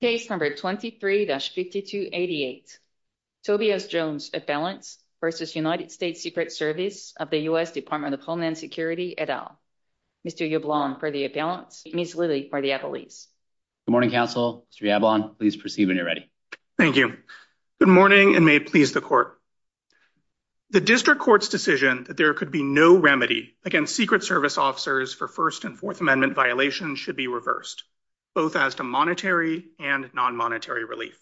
Case number 23-5288, Tobias Jones Appellant v. United States Secret Service of the U.S. Department of Homeland Security, et al. Mr. Yablon for the appellants, Ms. Lilly for the appellees. Good morning, counsel. Mr. Yablon, please proceed when you're ready. Thank you. Good morning, and may it please the Court. The District Court's decision that there could be no remedy against Secret Service officers for First and Fourth Amendment violations should be reversed, both as to monetary and non-monetary relief.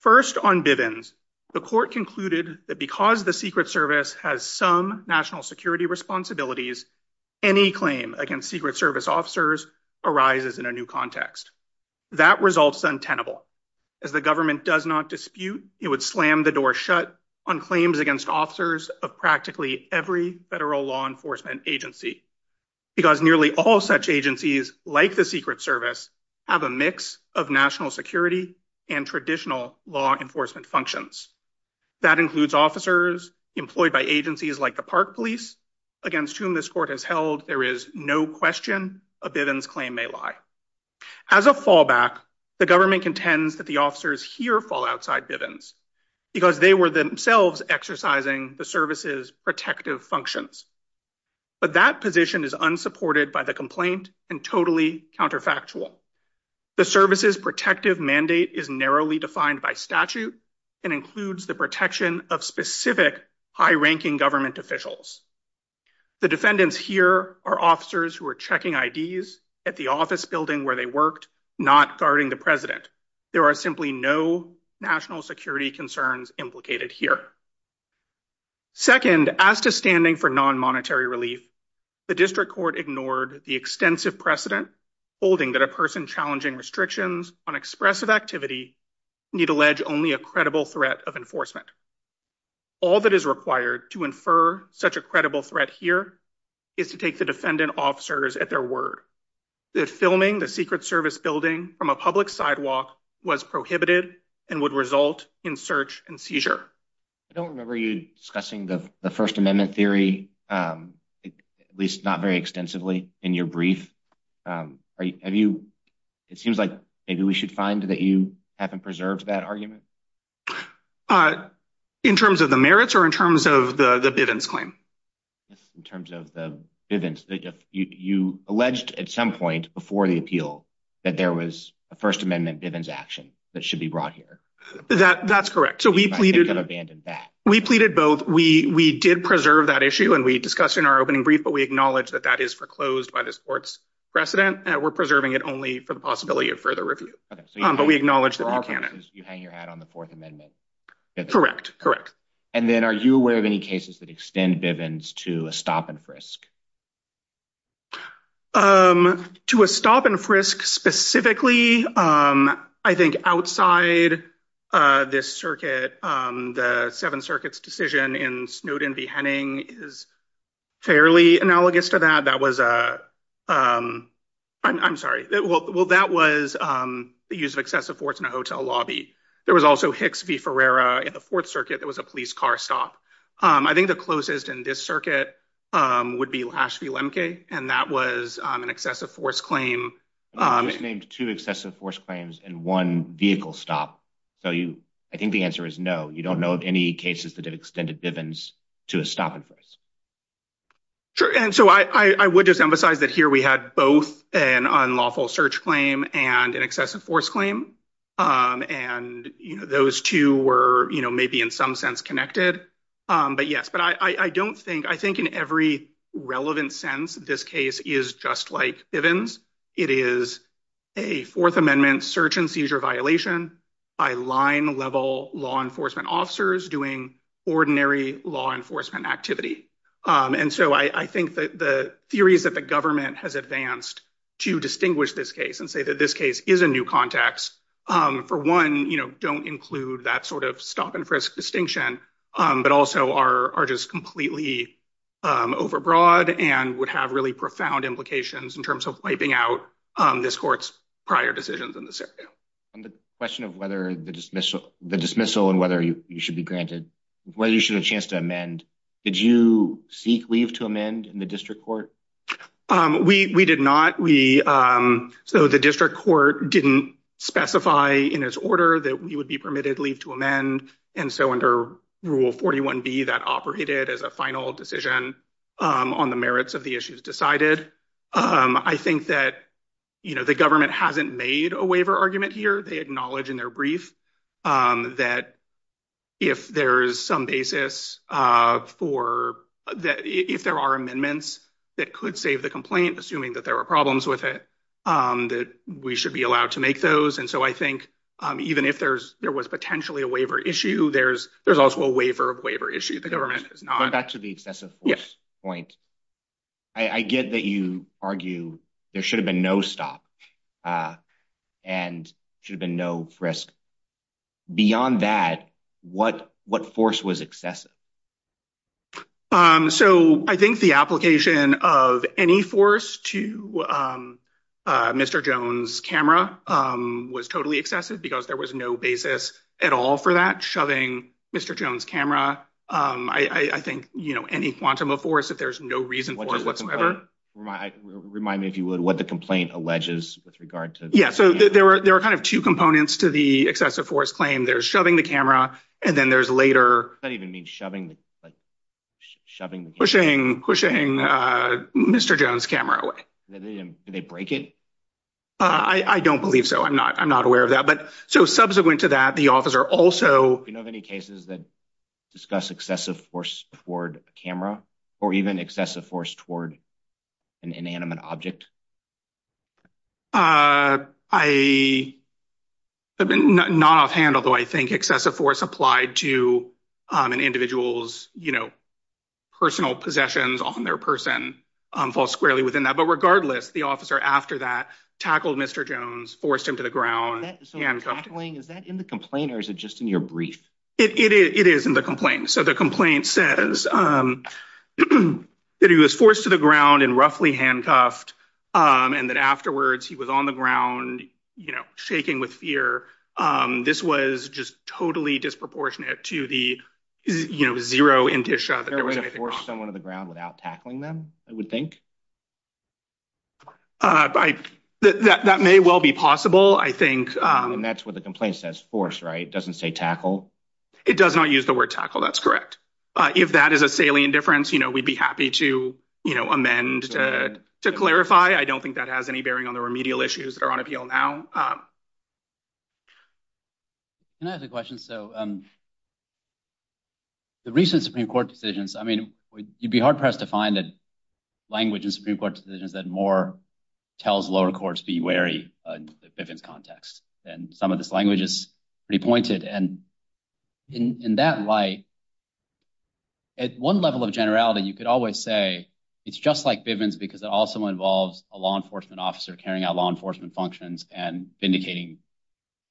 First, on Bivens, the Court concluded that because the Secret Service has some national security responsibilities, any claim against Secret Service officers arises in a new context. That result's untenable. As the government does not dispute, it would slam the door shut on claims against officers of practically every federal law enforcement agency, because nearly all such agencies, like the Secret Service, have a mix of national security and traditional law enforcement functions. That includes officers employed by agencies like the Park Police, against whom this Court has held there is no question a Bivens claim may lie. As a fallback, the government contends that the officers here fall outside Bivens, because they were themselves exercising the service's protective functions. But that position is unsupported by the complaint and totally counterfactual. The service's protective mandate is narrowly defined by statute and includes the protection of specific high-ranking government officials. The defendants here are officers who are checking IDs at the office building where they worked, not guarding the President. There are simply no national security concerns implicated here. Second, as to standing for non-monetary relief, the District Court ignored the extensive precedent holding that a person challenging restrictions on expressive activity need allege only a credible threat of enforcement. All that is required to infer such a credible threat here is to take the defendant officers at their word that filming the Secret Service building from a public sidewalk was prohibited and would result in search and seizure. I don't remember you discussing the First Amendment theory, at least not very extensively, in your brief. It seems like maybe we should find that you haven't preserved that argument? In terms of the merits or in terms of the Bivens claim? In terms of the Bivens. You alleged at some point before the appeal that there was a First Amendment Bivens action that should be brought here. That's correct. We pleaded both. We did preserve that issue, and we discussed it in our opening brief, but we acknowledge that that is foreclosed by this Court's precedent. We're preserving it only for the possibility of further review, but we acknowledge that we can't. You hang your hat on the Fourth Amendment? Correct. Correct. And then are you aware of any cases that extend Bivens to a stop and frisk? To a stop and frisk, specifically, I think outside this circuit, the Seventh Circuit's decision in Snowden v. Henning is fairly analogous to that. That was a I'm sorry. Well, that was the use of excessive force in a hotel lobby. There was also Hicks v. Ferrera in the Fourth Circuit. There was a police car stop. I think the closest in this circuit would be Lash v. Lemke, and that was an excessive force claim. You just named two excessive force claims and one vehicle stop. So you I think the answer is no. You don't know of any cases that have extended Bivens to a stop and frisk. And so I would just emphasize that here we had both an unlawful search claim and an excessive force claim. And those two were maybe in some sense connected. But yes, but I don't think I think in every relevant sense, this case is just like Bivens. It is a Fourth Amendment search and seizure violation by line level law enforcement officers doing ordinary law enforcement activity. And so I think that the theories that the government has advanced to distinguish this case and say that this case is a new context, for one, don't include that sort of stop and frisk distinction. But also are just completely overbroad and would have really profound implications in terms of wiping out this court's prior decisions in this area. The question of whether the dismissal, the dismissal and whether you should be granted, whether you should have a chance to amend. Did you seek leave to amend in the district court? We did not. We so the district court didn't specify in its order that we would be permitted leave to amend. And so under Rule 41B, that operated as a final decision on the merits of the issues decided. I think that, you know, the government hasn't made a waiver argument here. They acknowledge in their brief that if there is some basis for that, if there are amendments that could save the complaint, assuming that there are problems with it, that we should be allowed to make those. And so I think even if there's there was potentially a waiver issue, there's there's also a waiver of waiver issue. The government is not back to the excessive point. I get that you argue there should have been no stop and should have been no frisk. Beyond that, what what force was excessive? So I think the application of any force to Mr. Jones' camera was totally excessive because there was no basis at all for that shoving Mr. Jones' camera. I think, you know, any quantum of force, if there's no reason whatsoever. Remind me if you would what the complaint alleges with regard to. Yeah. So there were there were kind of two components to the excessive force claim. There's shoving the camera. And then there's later that even mean shoving, shoving, pushing, pushing Mr. Jones' camera away. They break it. I don't believe so. I'm not I'm not aware of that. But so subsequent to that, the officer also have any cases that discuss excessive force toward a camera or even excessive force toward an inanimate object. I have been not offhand, although I think excessive force applied to an individual's, you know, personal possessions on their person falls squarely within that. But regardless, the officer after that tackled Mr. Jones, forced him to the ground. And is that in the complaint or is it just in your brief? It is in the complaint. So the complaint says that he was forced to the ground and roughly handcuffed and that afterwards he was on the ground, you know, shaking with fear. This was just totally disproportionate to the, you know, zero. Someone on the ground without tackling them, I would think. By that, that may well be possible, I think. And that's what the complaint says. Force. Right. Doesn't say tackle. It does not use the word tackle. That's correct. If that is a salient difference, you know, we'd be happy to amend to clarify. I don't think that has any bearing on the remedial issues that are on appeal now. Can I ask a question? So. The recent Supreme Court decisions, I mean, you'd be hard pressed to find that language in Supreme Court decisions that more tells lower courts be wary of Bivens context. And some of this language is pretty pointed. And in that light. At one level of generality, you could always say it's just like Bivens, because it also involves a law enforcement officer carrying out law enforcement functions and indicating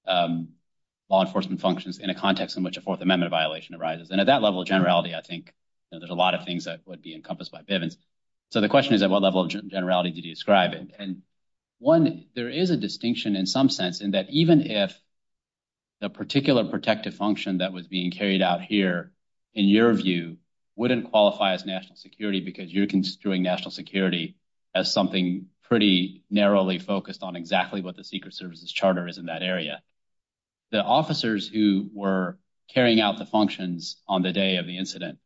law enforcement functions in a context in which a Fourth Amendment violation arises. And at that level of generality, I think there's a lot of things that would be encompassed by Bivens. So the question is, at what level of generality did you describe it? And one, there is a distinction in some sense in that even if. The particular protective function that was being carried out here, in your view, wouldn't qualify as national security because you're construing national security as something pretty narrowly focused on exactly what the Secret Services charter is in that area. The officers who were carrying out the functions on the day of the incident,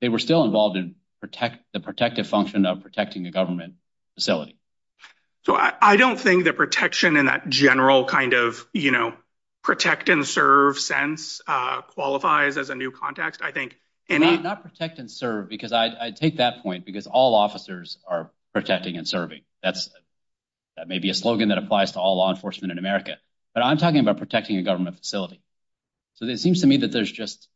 they were still involved in protect the protective function of protecting the government facility. So, I don't think the protection in that general kind of, you know, protect and serve sense qualifies as a new context. I think. Not protect and serve because I take that point because all officers are protecting and serving. That's maybe a slogan that applies to all law enforcement in America. But I'm talking about protecting a government facility. So, it seems to me that there's just,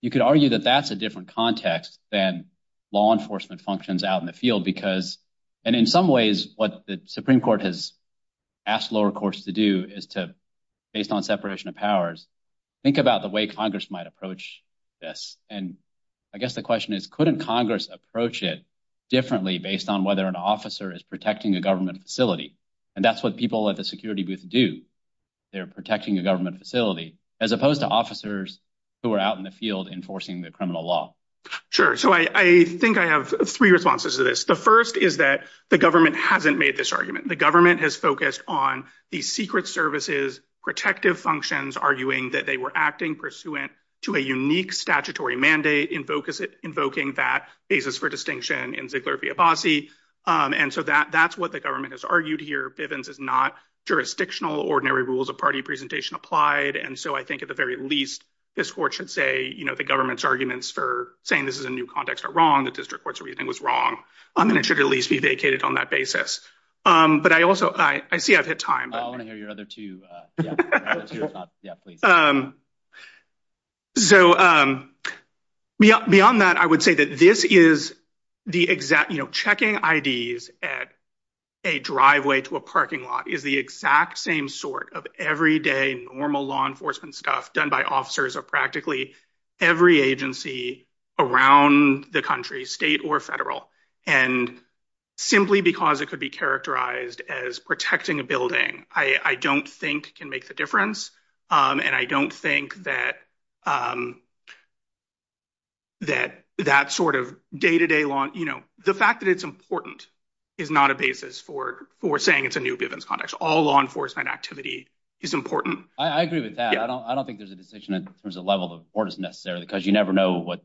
you could argue that that's a different context than law enforcement functions out in the field because. And in some ways, what the Supreme Court has asked lower courts to do is to, based on separation of powers, think about the way Congress might approach this. And I guess the question is, couldn't Congress approach it differently based on whether an officer is protecting a government facility? And that's what people at the security booth do. They're protecting a government facility as opposed to officers who are out in the field enforcing the criminal law. Sure. So, I think I have three responses to this. The first is that the government hasn't made this argument. The government has focused on these secret services, protective functions, arguing that they were acting pursuant to a unique statutory mandate invoking that basis for distinction in Ziegler v. Abbasi. And so, that's what the government has argued here. Bivens is not jurisdictional. Ordinary rules of party presentation applied. And so, I think at the very least, this court should say the government's arguments for saying this is a new context are wrong. The district court's reasoning was wrong. And it should at least be vacated on that basis. But I also, I see I've hit time. I want to hear your other two. Yeah, please. So, beyond that, I would say that this is the exact, you know, checking IDs at a driveway to a parking lot is the exact same sort of everyday normal law enforcement stuff done by officers of practically every agency around the country, state or federal. And simply because it could be characterized as protecting a building, I don't think can make the difference. And I don't think that that sort of day-to-day law, you know, the fact that it's important is not a basis for saying it's a new context. All law enforcement activity is important. I agree with that. I don't think there's a distinction in terms of level of orders necessarily, because you never know what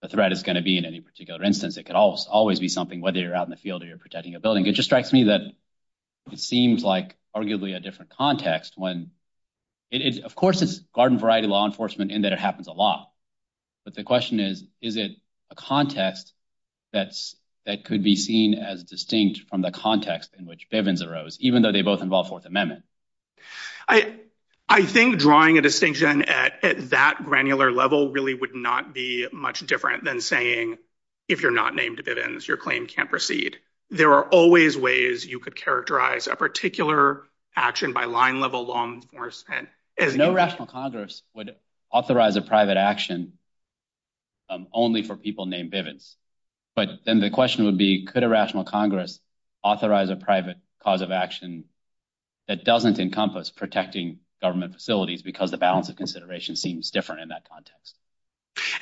the threat is going to be in any particular instance. It could always be something, whether you're out in the field or you're protecting a building. It just strikes me that it seems like arguably a different context when it is, of course, it's garden variety law enforcement in that it happens a lot. But the question is, is it a context that could be seen as distinct from the context in which Bivens arose, even though they both involve Fourth Amendment? I think drawing a distinction at that granular level really would not be much different than saying, if you're not named Bivens, your claim can't proceed. There are always ways you could characterize a particular action by line level law enforcement. No rational Congress would authorize a private action only for people named Bivens. But then the question would be, could a rational Congress authorize a private cause of action that doesn't encompass protecting government facilities because the balance of consideration seems different in that context?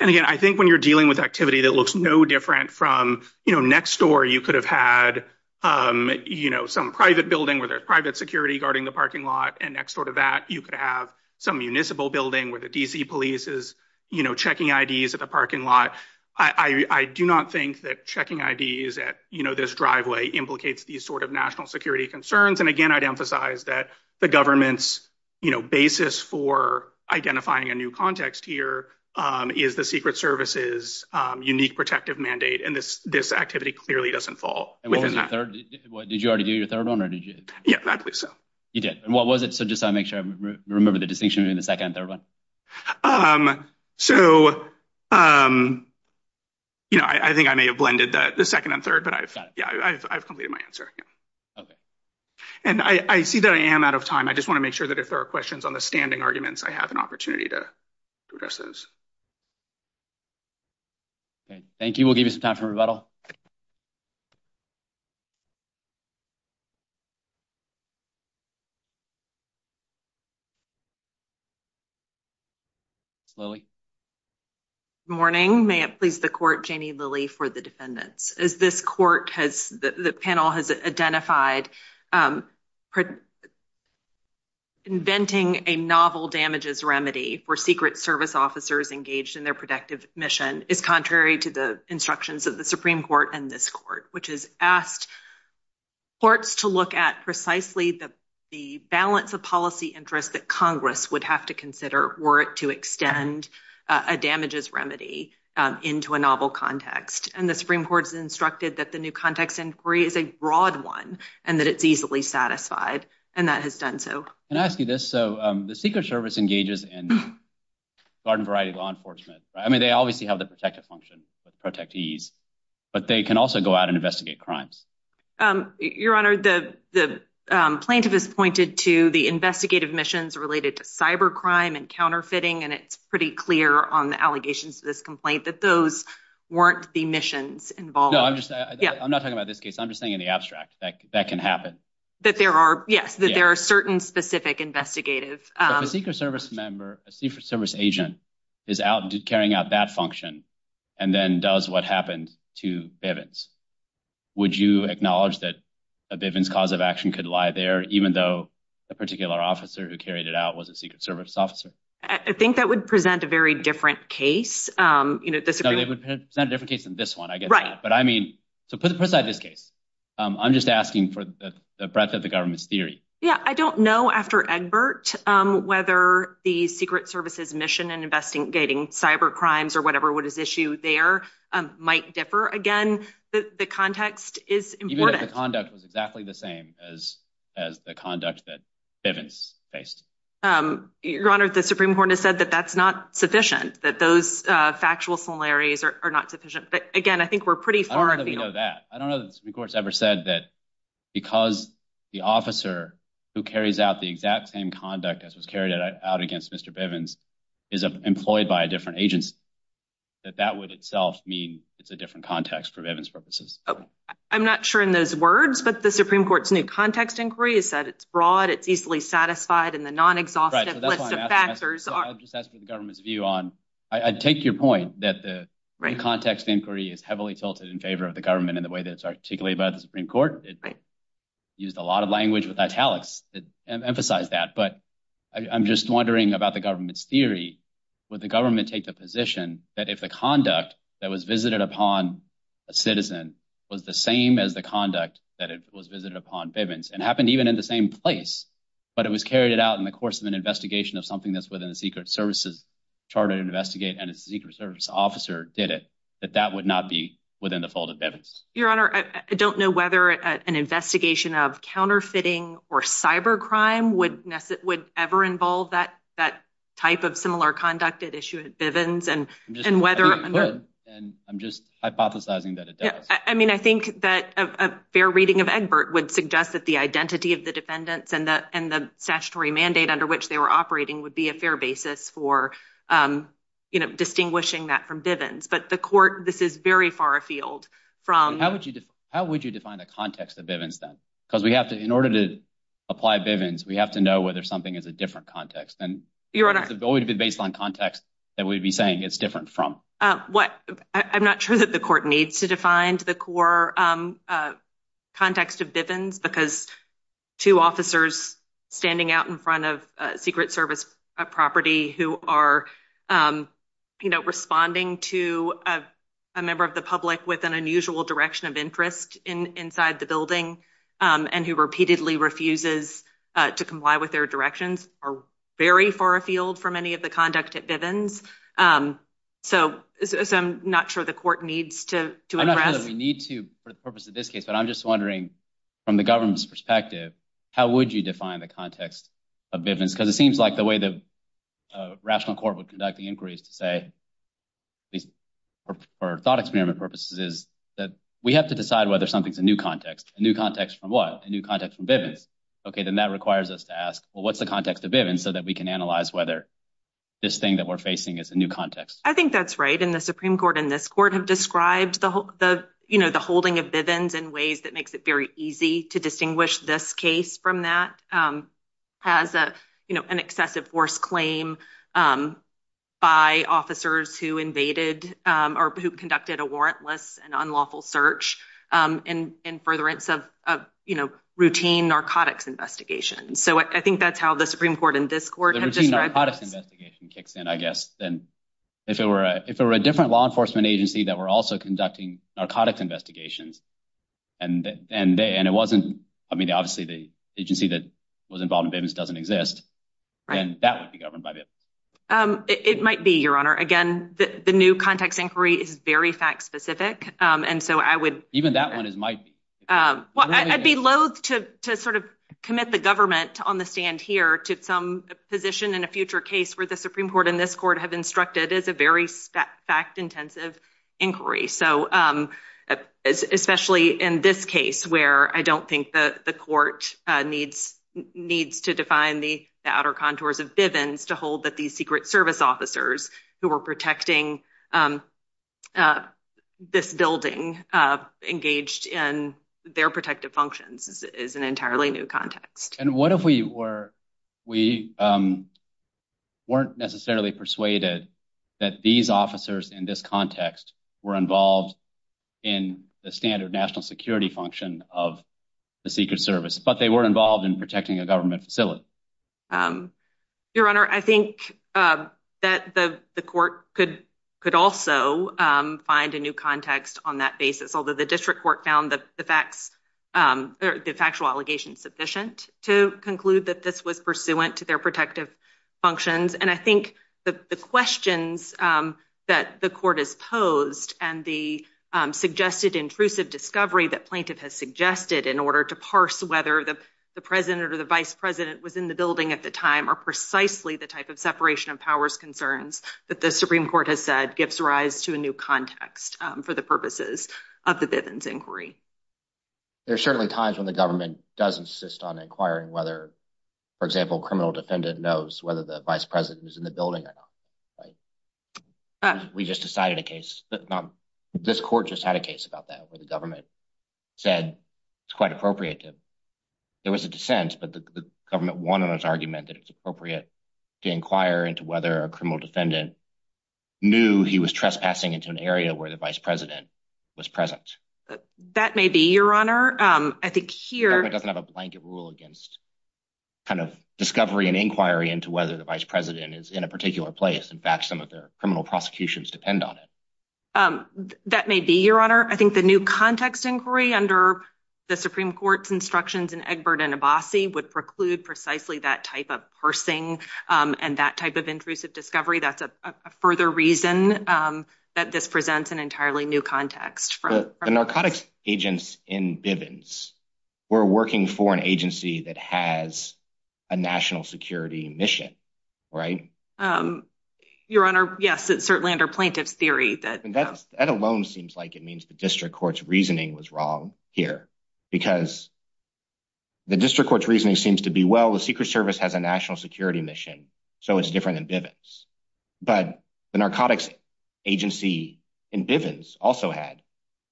And again, I think when you're dealing with activity that looks no different from next door, you could have had some private building where there's private security guarding the parking lot. And next door to that, you could have some municipal building where the D.C. police is checking IDs at the parking lot. I do not think that checking IDs at this driveway implicates these sort of national security concerns. And again, I'd emphasize that the government's basis for identifying a new context here is the Secret Service's unique protective mandate. And this activity clearly doesn't fall within that. Did you already do your third one? Yeah, I believe so. You did. And what was it? So just to make sure I remember the distinction between the second and third one. So, you know, I think I may have blended the second and third, but I've completed my answer. And I see that I am out of time. I just want to make sure that if there are questions on the standing arguments, I have an opportunity to address those. Thank you. We'll give you some time for rebuttal. Lily. Good morning. May it please the court, Janie Lilly for the defendants. As this court has the panel has identified, inventing a novel damages remedy for Secret Service officers engaged in their protective mission is contrary to the instructions of the Supreme Court and this court, which has asked courts to look at precisely the balance of policy interest that Congress would have to consider were it to extend a damages remedy into a novel context. And the Supreme Court has instructed that the new context inquiry is a broad one and that it's easily satisfied. And that has done so. Can I ask you this? So the Secret Service engages in garden variety law enforcement. I mean, they obviously have the protective function to protect ease, but they can also go out and investigate crimes. Your Honor, the plaintiff has pointed to the investigative missions related to cyber crime and counterfeiting. And it's pretty clear on the allegations of this complaint that those weren't the missions involved. I'm not talking about this case. I'm just saying in the abstract that that can happen. That there are yes, that there are certain specific investigative. The Secret Service member, a Secret Service agent is out carrying out that function and then does what happened to evidence. Would you acknowledge that a Bivens cause of action could lie there, even though a particular officer who carried it out was a Secret Service officer? I think that would present a very different case. You know, this is not a different case than this one, I guess. Right. But I mean, to put it beside this case, I'm just asking for the breadth of the government's theory. Yeah, I don't know after Egbert whether the Secret Service's mission in investigating cyber crimes or whatever what is issued there might differ. Again, the context is important. The conduct was exactly the same as as the conduct that Bivens faced. Your Honor, the Supreme Court has said that that's not sufficient, that those factual similarities are not sufficient. But again, I think we're pretty far. I don't know that the Supreme Court's ever said that because the officer who carries out the exact same conduct as was carried out against Mr. Bivens is employed by a different agency, that that would itself mean it's a different context for Bivens purposes. I'm not sure in those words, but the Supreme Court's new context inquiry has said it's broad, it's easily satisfied in the non-exhaustive list of factors. I'd just ask for the government's view on, I take your point that the context inquiry is heavily tilted in favor of the government in the way that it's articulated by the Supreme Court. It used a lot of language with italics that emphasize that, but I'm just wondering about the government's theory. Would the government take the position that if the conduct that was visited upon a citizen was the same as the conduct that was visited upon Bivens and happened even in the same place, but it was carried out in the course of an investigation of something that's within the Secret Service's charter to investigate and a Secret Service officer did it, that that would not be within the fold of Bivens? Your Honor, I don't know whether an investigation of counterfeiting or cybercrime would ever involve that type of similar conduct at issue at Bivens. I'm just hypothesizing that it does. I mean, I think that a fair reading of Egbert would suggest that the identity of the defendants and the statutory mandate under which they were operating would be a fair basis for distinguishing that from Bivens. But the court, this is very far afield. How would you define the context of Bivens then? Because in order to apply Bivens, we have to know whether something is a different context. It would be based on context that we'd be saying it's different from. I'm not sure that the court needs to define the core context of Bivens because two officers standing out in front of Secret Service property who are responding to a member of the public with an unusual direction of interest inside the building and who repeatedly refuses to comply with their directions are very far afield for many of the conduct at Bivens. So I'm not sure the court needs to address. I'm not sure that we need to for the purpose of this case. But I'm just wondering, from the government's perspective, how would you define the context of Bivens? Because it seems like the way the rational court would conduct the inquiries to say, at least for thought experiment purposes, is that we have to decide whether something's a new context. A new context from what? A new context from Bivens. OK, then that requires us to ask, well, what's the context of Bivens so that we can analyze whether this thing that we're facing is a new context? I think that's right. The Supreme Court and this court have described the holding of Bivens in ways that makes it very easy to distinguish this case from that as an excessive force claim by officers who invaded or who conducted a warrantless and unlawful search in furtherance of routine narcotics investigation. So I think that's how the Supreme Court and this court have described this. The routine narcotics investigation kicks in, I guess. And if it were a different law enforcement agency that were also conducting narcotics investigations, and it wasn't, I mean, obviously the agency that was involved in Bivens doesn't exist, then that would be governed by Bivens. It might be, Your Honor. Again, the new context inquiry is very fact specific. And so I would. Even that one is might be. I'd be loath to sort of commit the government on the stand here to some position in a future case where the Supreme Court and this court have instructed is a very fact intensive inquiry. So especially in this case where I don't think the court needs needs to define the outer contours of Bivens to hold that these Secret Service officers who were protecting this building engaged in their protective functions is an entirely new context. And what if we were we weren't necessarily persuaded that these officers in this context were involved in the standard national security function of the Secret Service, but they were involved in protecting a government facility. Your Honor, I think that the court could could also find a new context on that basis, although the district court found the facts, the factual allegations sufficient to conclude that this was pursuant to their protective functions. And I think the questions that the court is posed and the suggested intrusive discovery that plaintiff has suggested in order to parse whether the president or the vice president was in the building at the time are precisely the type of separation of powers concerns that the Supreme Court has said gives rise to a new context for the purposes of the Bivens inquiry. There are certainly times when the government does insist on inquiring whether, for example, criminal defendant knows whether the vice president is in the building or not. We just decided a case that this court just had a case about that where the government said it's quite appropriate. There was a dissent, but the government won on his argument that it's appropriate to inquire into whether a criminal defendant knew he was trespassing into an area where the vice president was present. That may be your honor. I think here doesn't have a blanket rule against kind of discovery and inquiry into whether the vice president is in a particular place. In fact, some of their criminal prosecutions depend on it. That may be your honor. I think the new context inquiry under the Supreme Court's instructions and Egbert and Abbasi would preclude precisely that type of parsing and that type of intrusive discovery. That's a further reason that this presents an entirely new context for the narcotics agents in Bivens. We're working for an agency that has a national security mission, right? Your honor. Yes, it's certainly under plaintiff's theory that that alone seems like it means the district court's reasoning was wrong here because. The district court's reasoning seems to be well, the Secret Service has a national security mission, so it's different than Bivens, but the narcotics agency in Bivens also had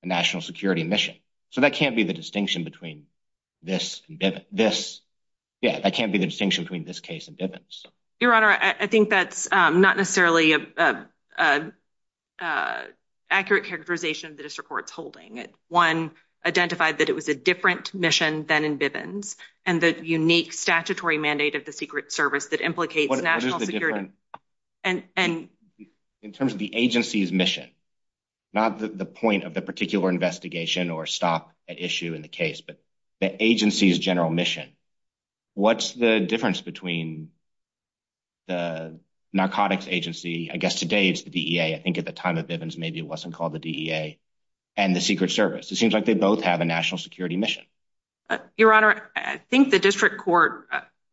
a national security mission. So that can't be the distinction between this and this. Yeah, I can't be the distinction between this case and Bivens. Your honor, I think that's not necessarily an accurate characterization of the district court's holding it. One identified that it was a different mission than in Bivens and the unique statutory mandate of the Secret Service that implicates national security. And in terms of the agency's mission, not the point of the particular investigation or stop issue in the case, but the agency's general mission. What's the difference between the narcotics agency? I guess today it's the DEA. I think at the time of Bivens, maybe it wasn't called the DEA and the Secret Service. It seems like they both have a national security mission. Your honor, I think the district court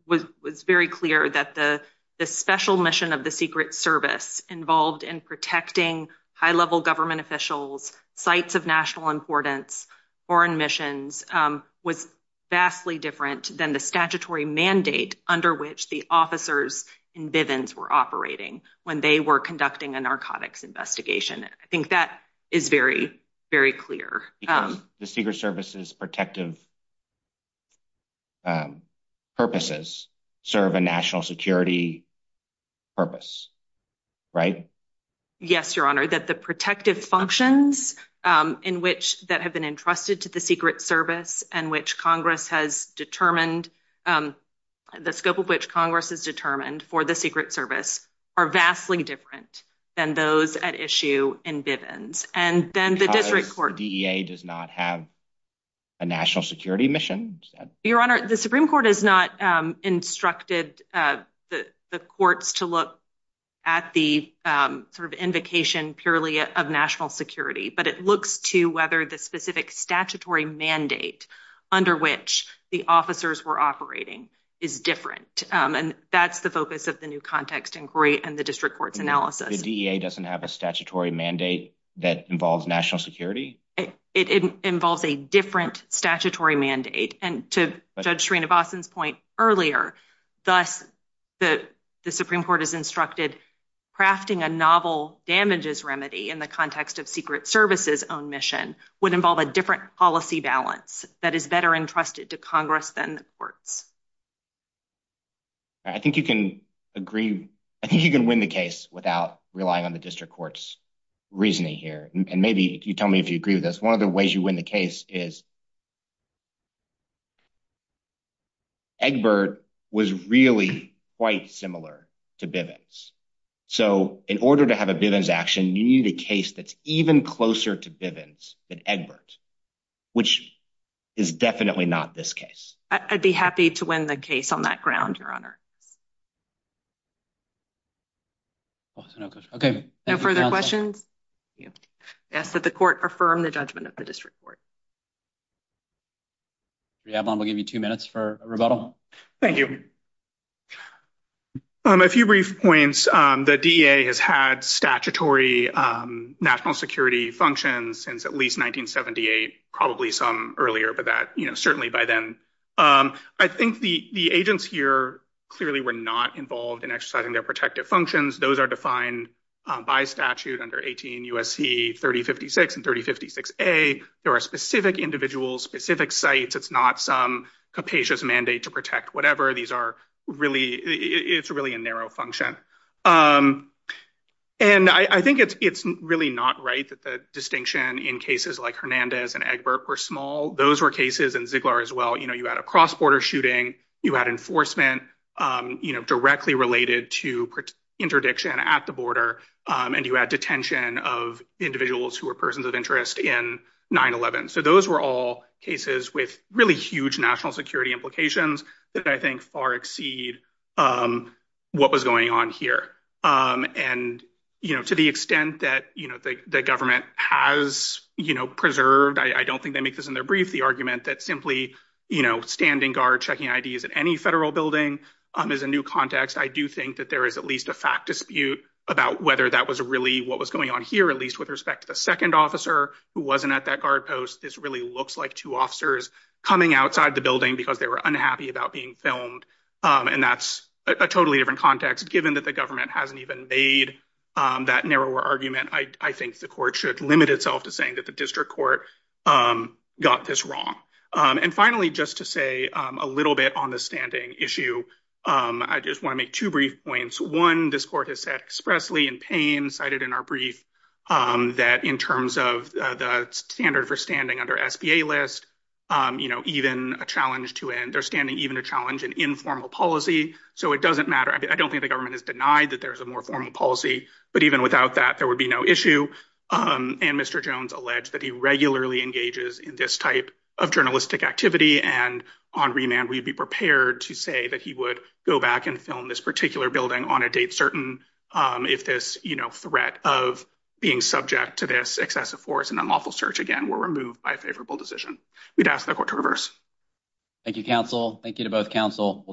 was very clear that the special mission of the Secret Service involved in protecting high level government officials, sites of national importance, foreign missions was vastly different than the statutory mandate under which the officers in Bivens were operating when they were conducting a narcotics investigation. I think that is very, very clear. The Secret Service's protective purposes serve a national security purpose, right? Yes, your honor, that the protective functions in which that have been entrusted to the Secret Service and which Congress has determined the scope of which Congress is determined for the Secret Service are vastly different than those at issue in Bivens. Because the DEA does not have a national security mission? Your honor, the Supreme Court has not instructed the courts to look at the sort of invocation purely of national security, but it looks to whether the specific statutory mandate under which the officers were operating is different. And that's the focus of the new context inquiry and the district court's analysis. The DEA doesn't have a statutory mandate that involves national security? It involves a different statutory mandate. And to Judge Sreenivasan's point earlier, thus the Supreme Court has instructed crafting a novel damages remedy in the context of Secret Service's own mission would involve a different policy balance that is better entrusted to Congress than the courts. I think you can agree. I think you can win the case without relying on the district court's reasoning here. And maybe you tell me if you agree with this. One of the ways you win the case is Egbert was really quite similar to Bivens. So, in order to have a Bivens action, you need a case that's even closer to Bivens than Egbert, which is definitely not this case. I'd be happy to win the case on that ground, your honor. Okay, no further questions. Yes, that the court affirmed the judgment of the district court. Yeah, I'm gonna give you two minutes for rebuttal. Thank you. A few brief points. The DEA has had statutory national security functions since at least 1978, probably some earlier, but that, you know, certainly by then. I think the agents here clearly were not involved in exercising their protective functions. Those are defined by statute under 18 U.S.C. 3056 and 3056A. There are specific individuals, specific sites. It's not some capacious mandate to protect whatever. These are really, it's really a narrow function. And I think it's really not right that the distinction in cases like Hernandez and Egbert were small. Those were cases in Ziegler as well. You know, you had a cross-border shooting. You had enforcement directly related to interdiction at the border. And you had detention of individuals who were persons of interest in 9-11. So those were all cases with really huge national security implications that I think far exceed what was going on here. And, you know, to the extent that, you know, the government has, you know, preserved, I don't think they make this in their brief, the argument that simply, you know, standing guard, checking IDs at any federal building is a new context. I do think that there is at least a fact dispute about whether that was really what was going on here, at least with respect to the second officer who wasn't at that guard post. This really looks like two officers coming outside the building because they were unhappy about being filmed. And that's a totally different context, given that the government hasn't even made that narrower argument. I think the court should limit itself to saying that the district court got this wrong. And finally, just to say a little bit on the standing issue, I just want to make two brief points. One, this court has said expressly in pain, cited in our brief, that in terms of the standard for standing under SBA list, you know, even a challenge to their standing, even a challenge in informal policy. So it doesn't matter. I don't think the government has denied that there's a more formal policy. But even without that, there would be no issue. And Mr. Jones alleged that he regularly engages in this type of journalistic activity. And on remand, we'd be prepared to say that he would go back and film this particular building on a date certain if this, you know, threat of being subject to this excessive force and unlawful search again were removed by a favorable decision. We'd ask the court to reverse. Thank you, counsel. Thank you to both counsel.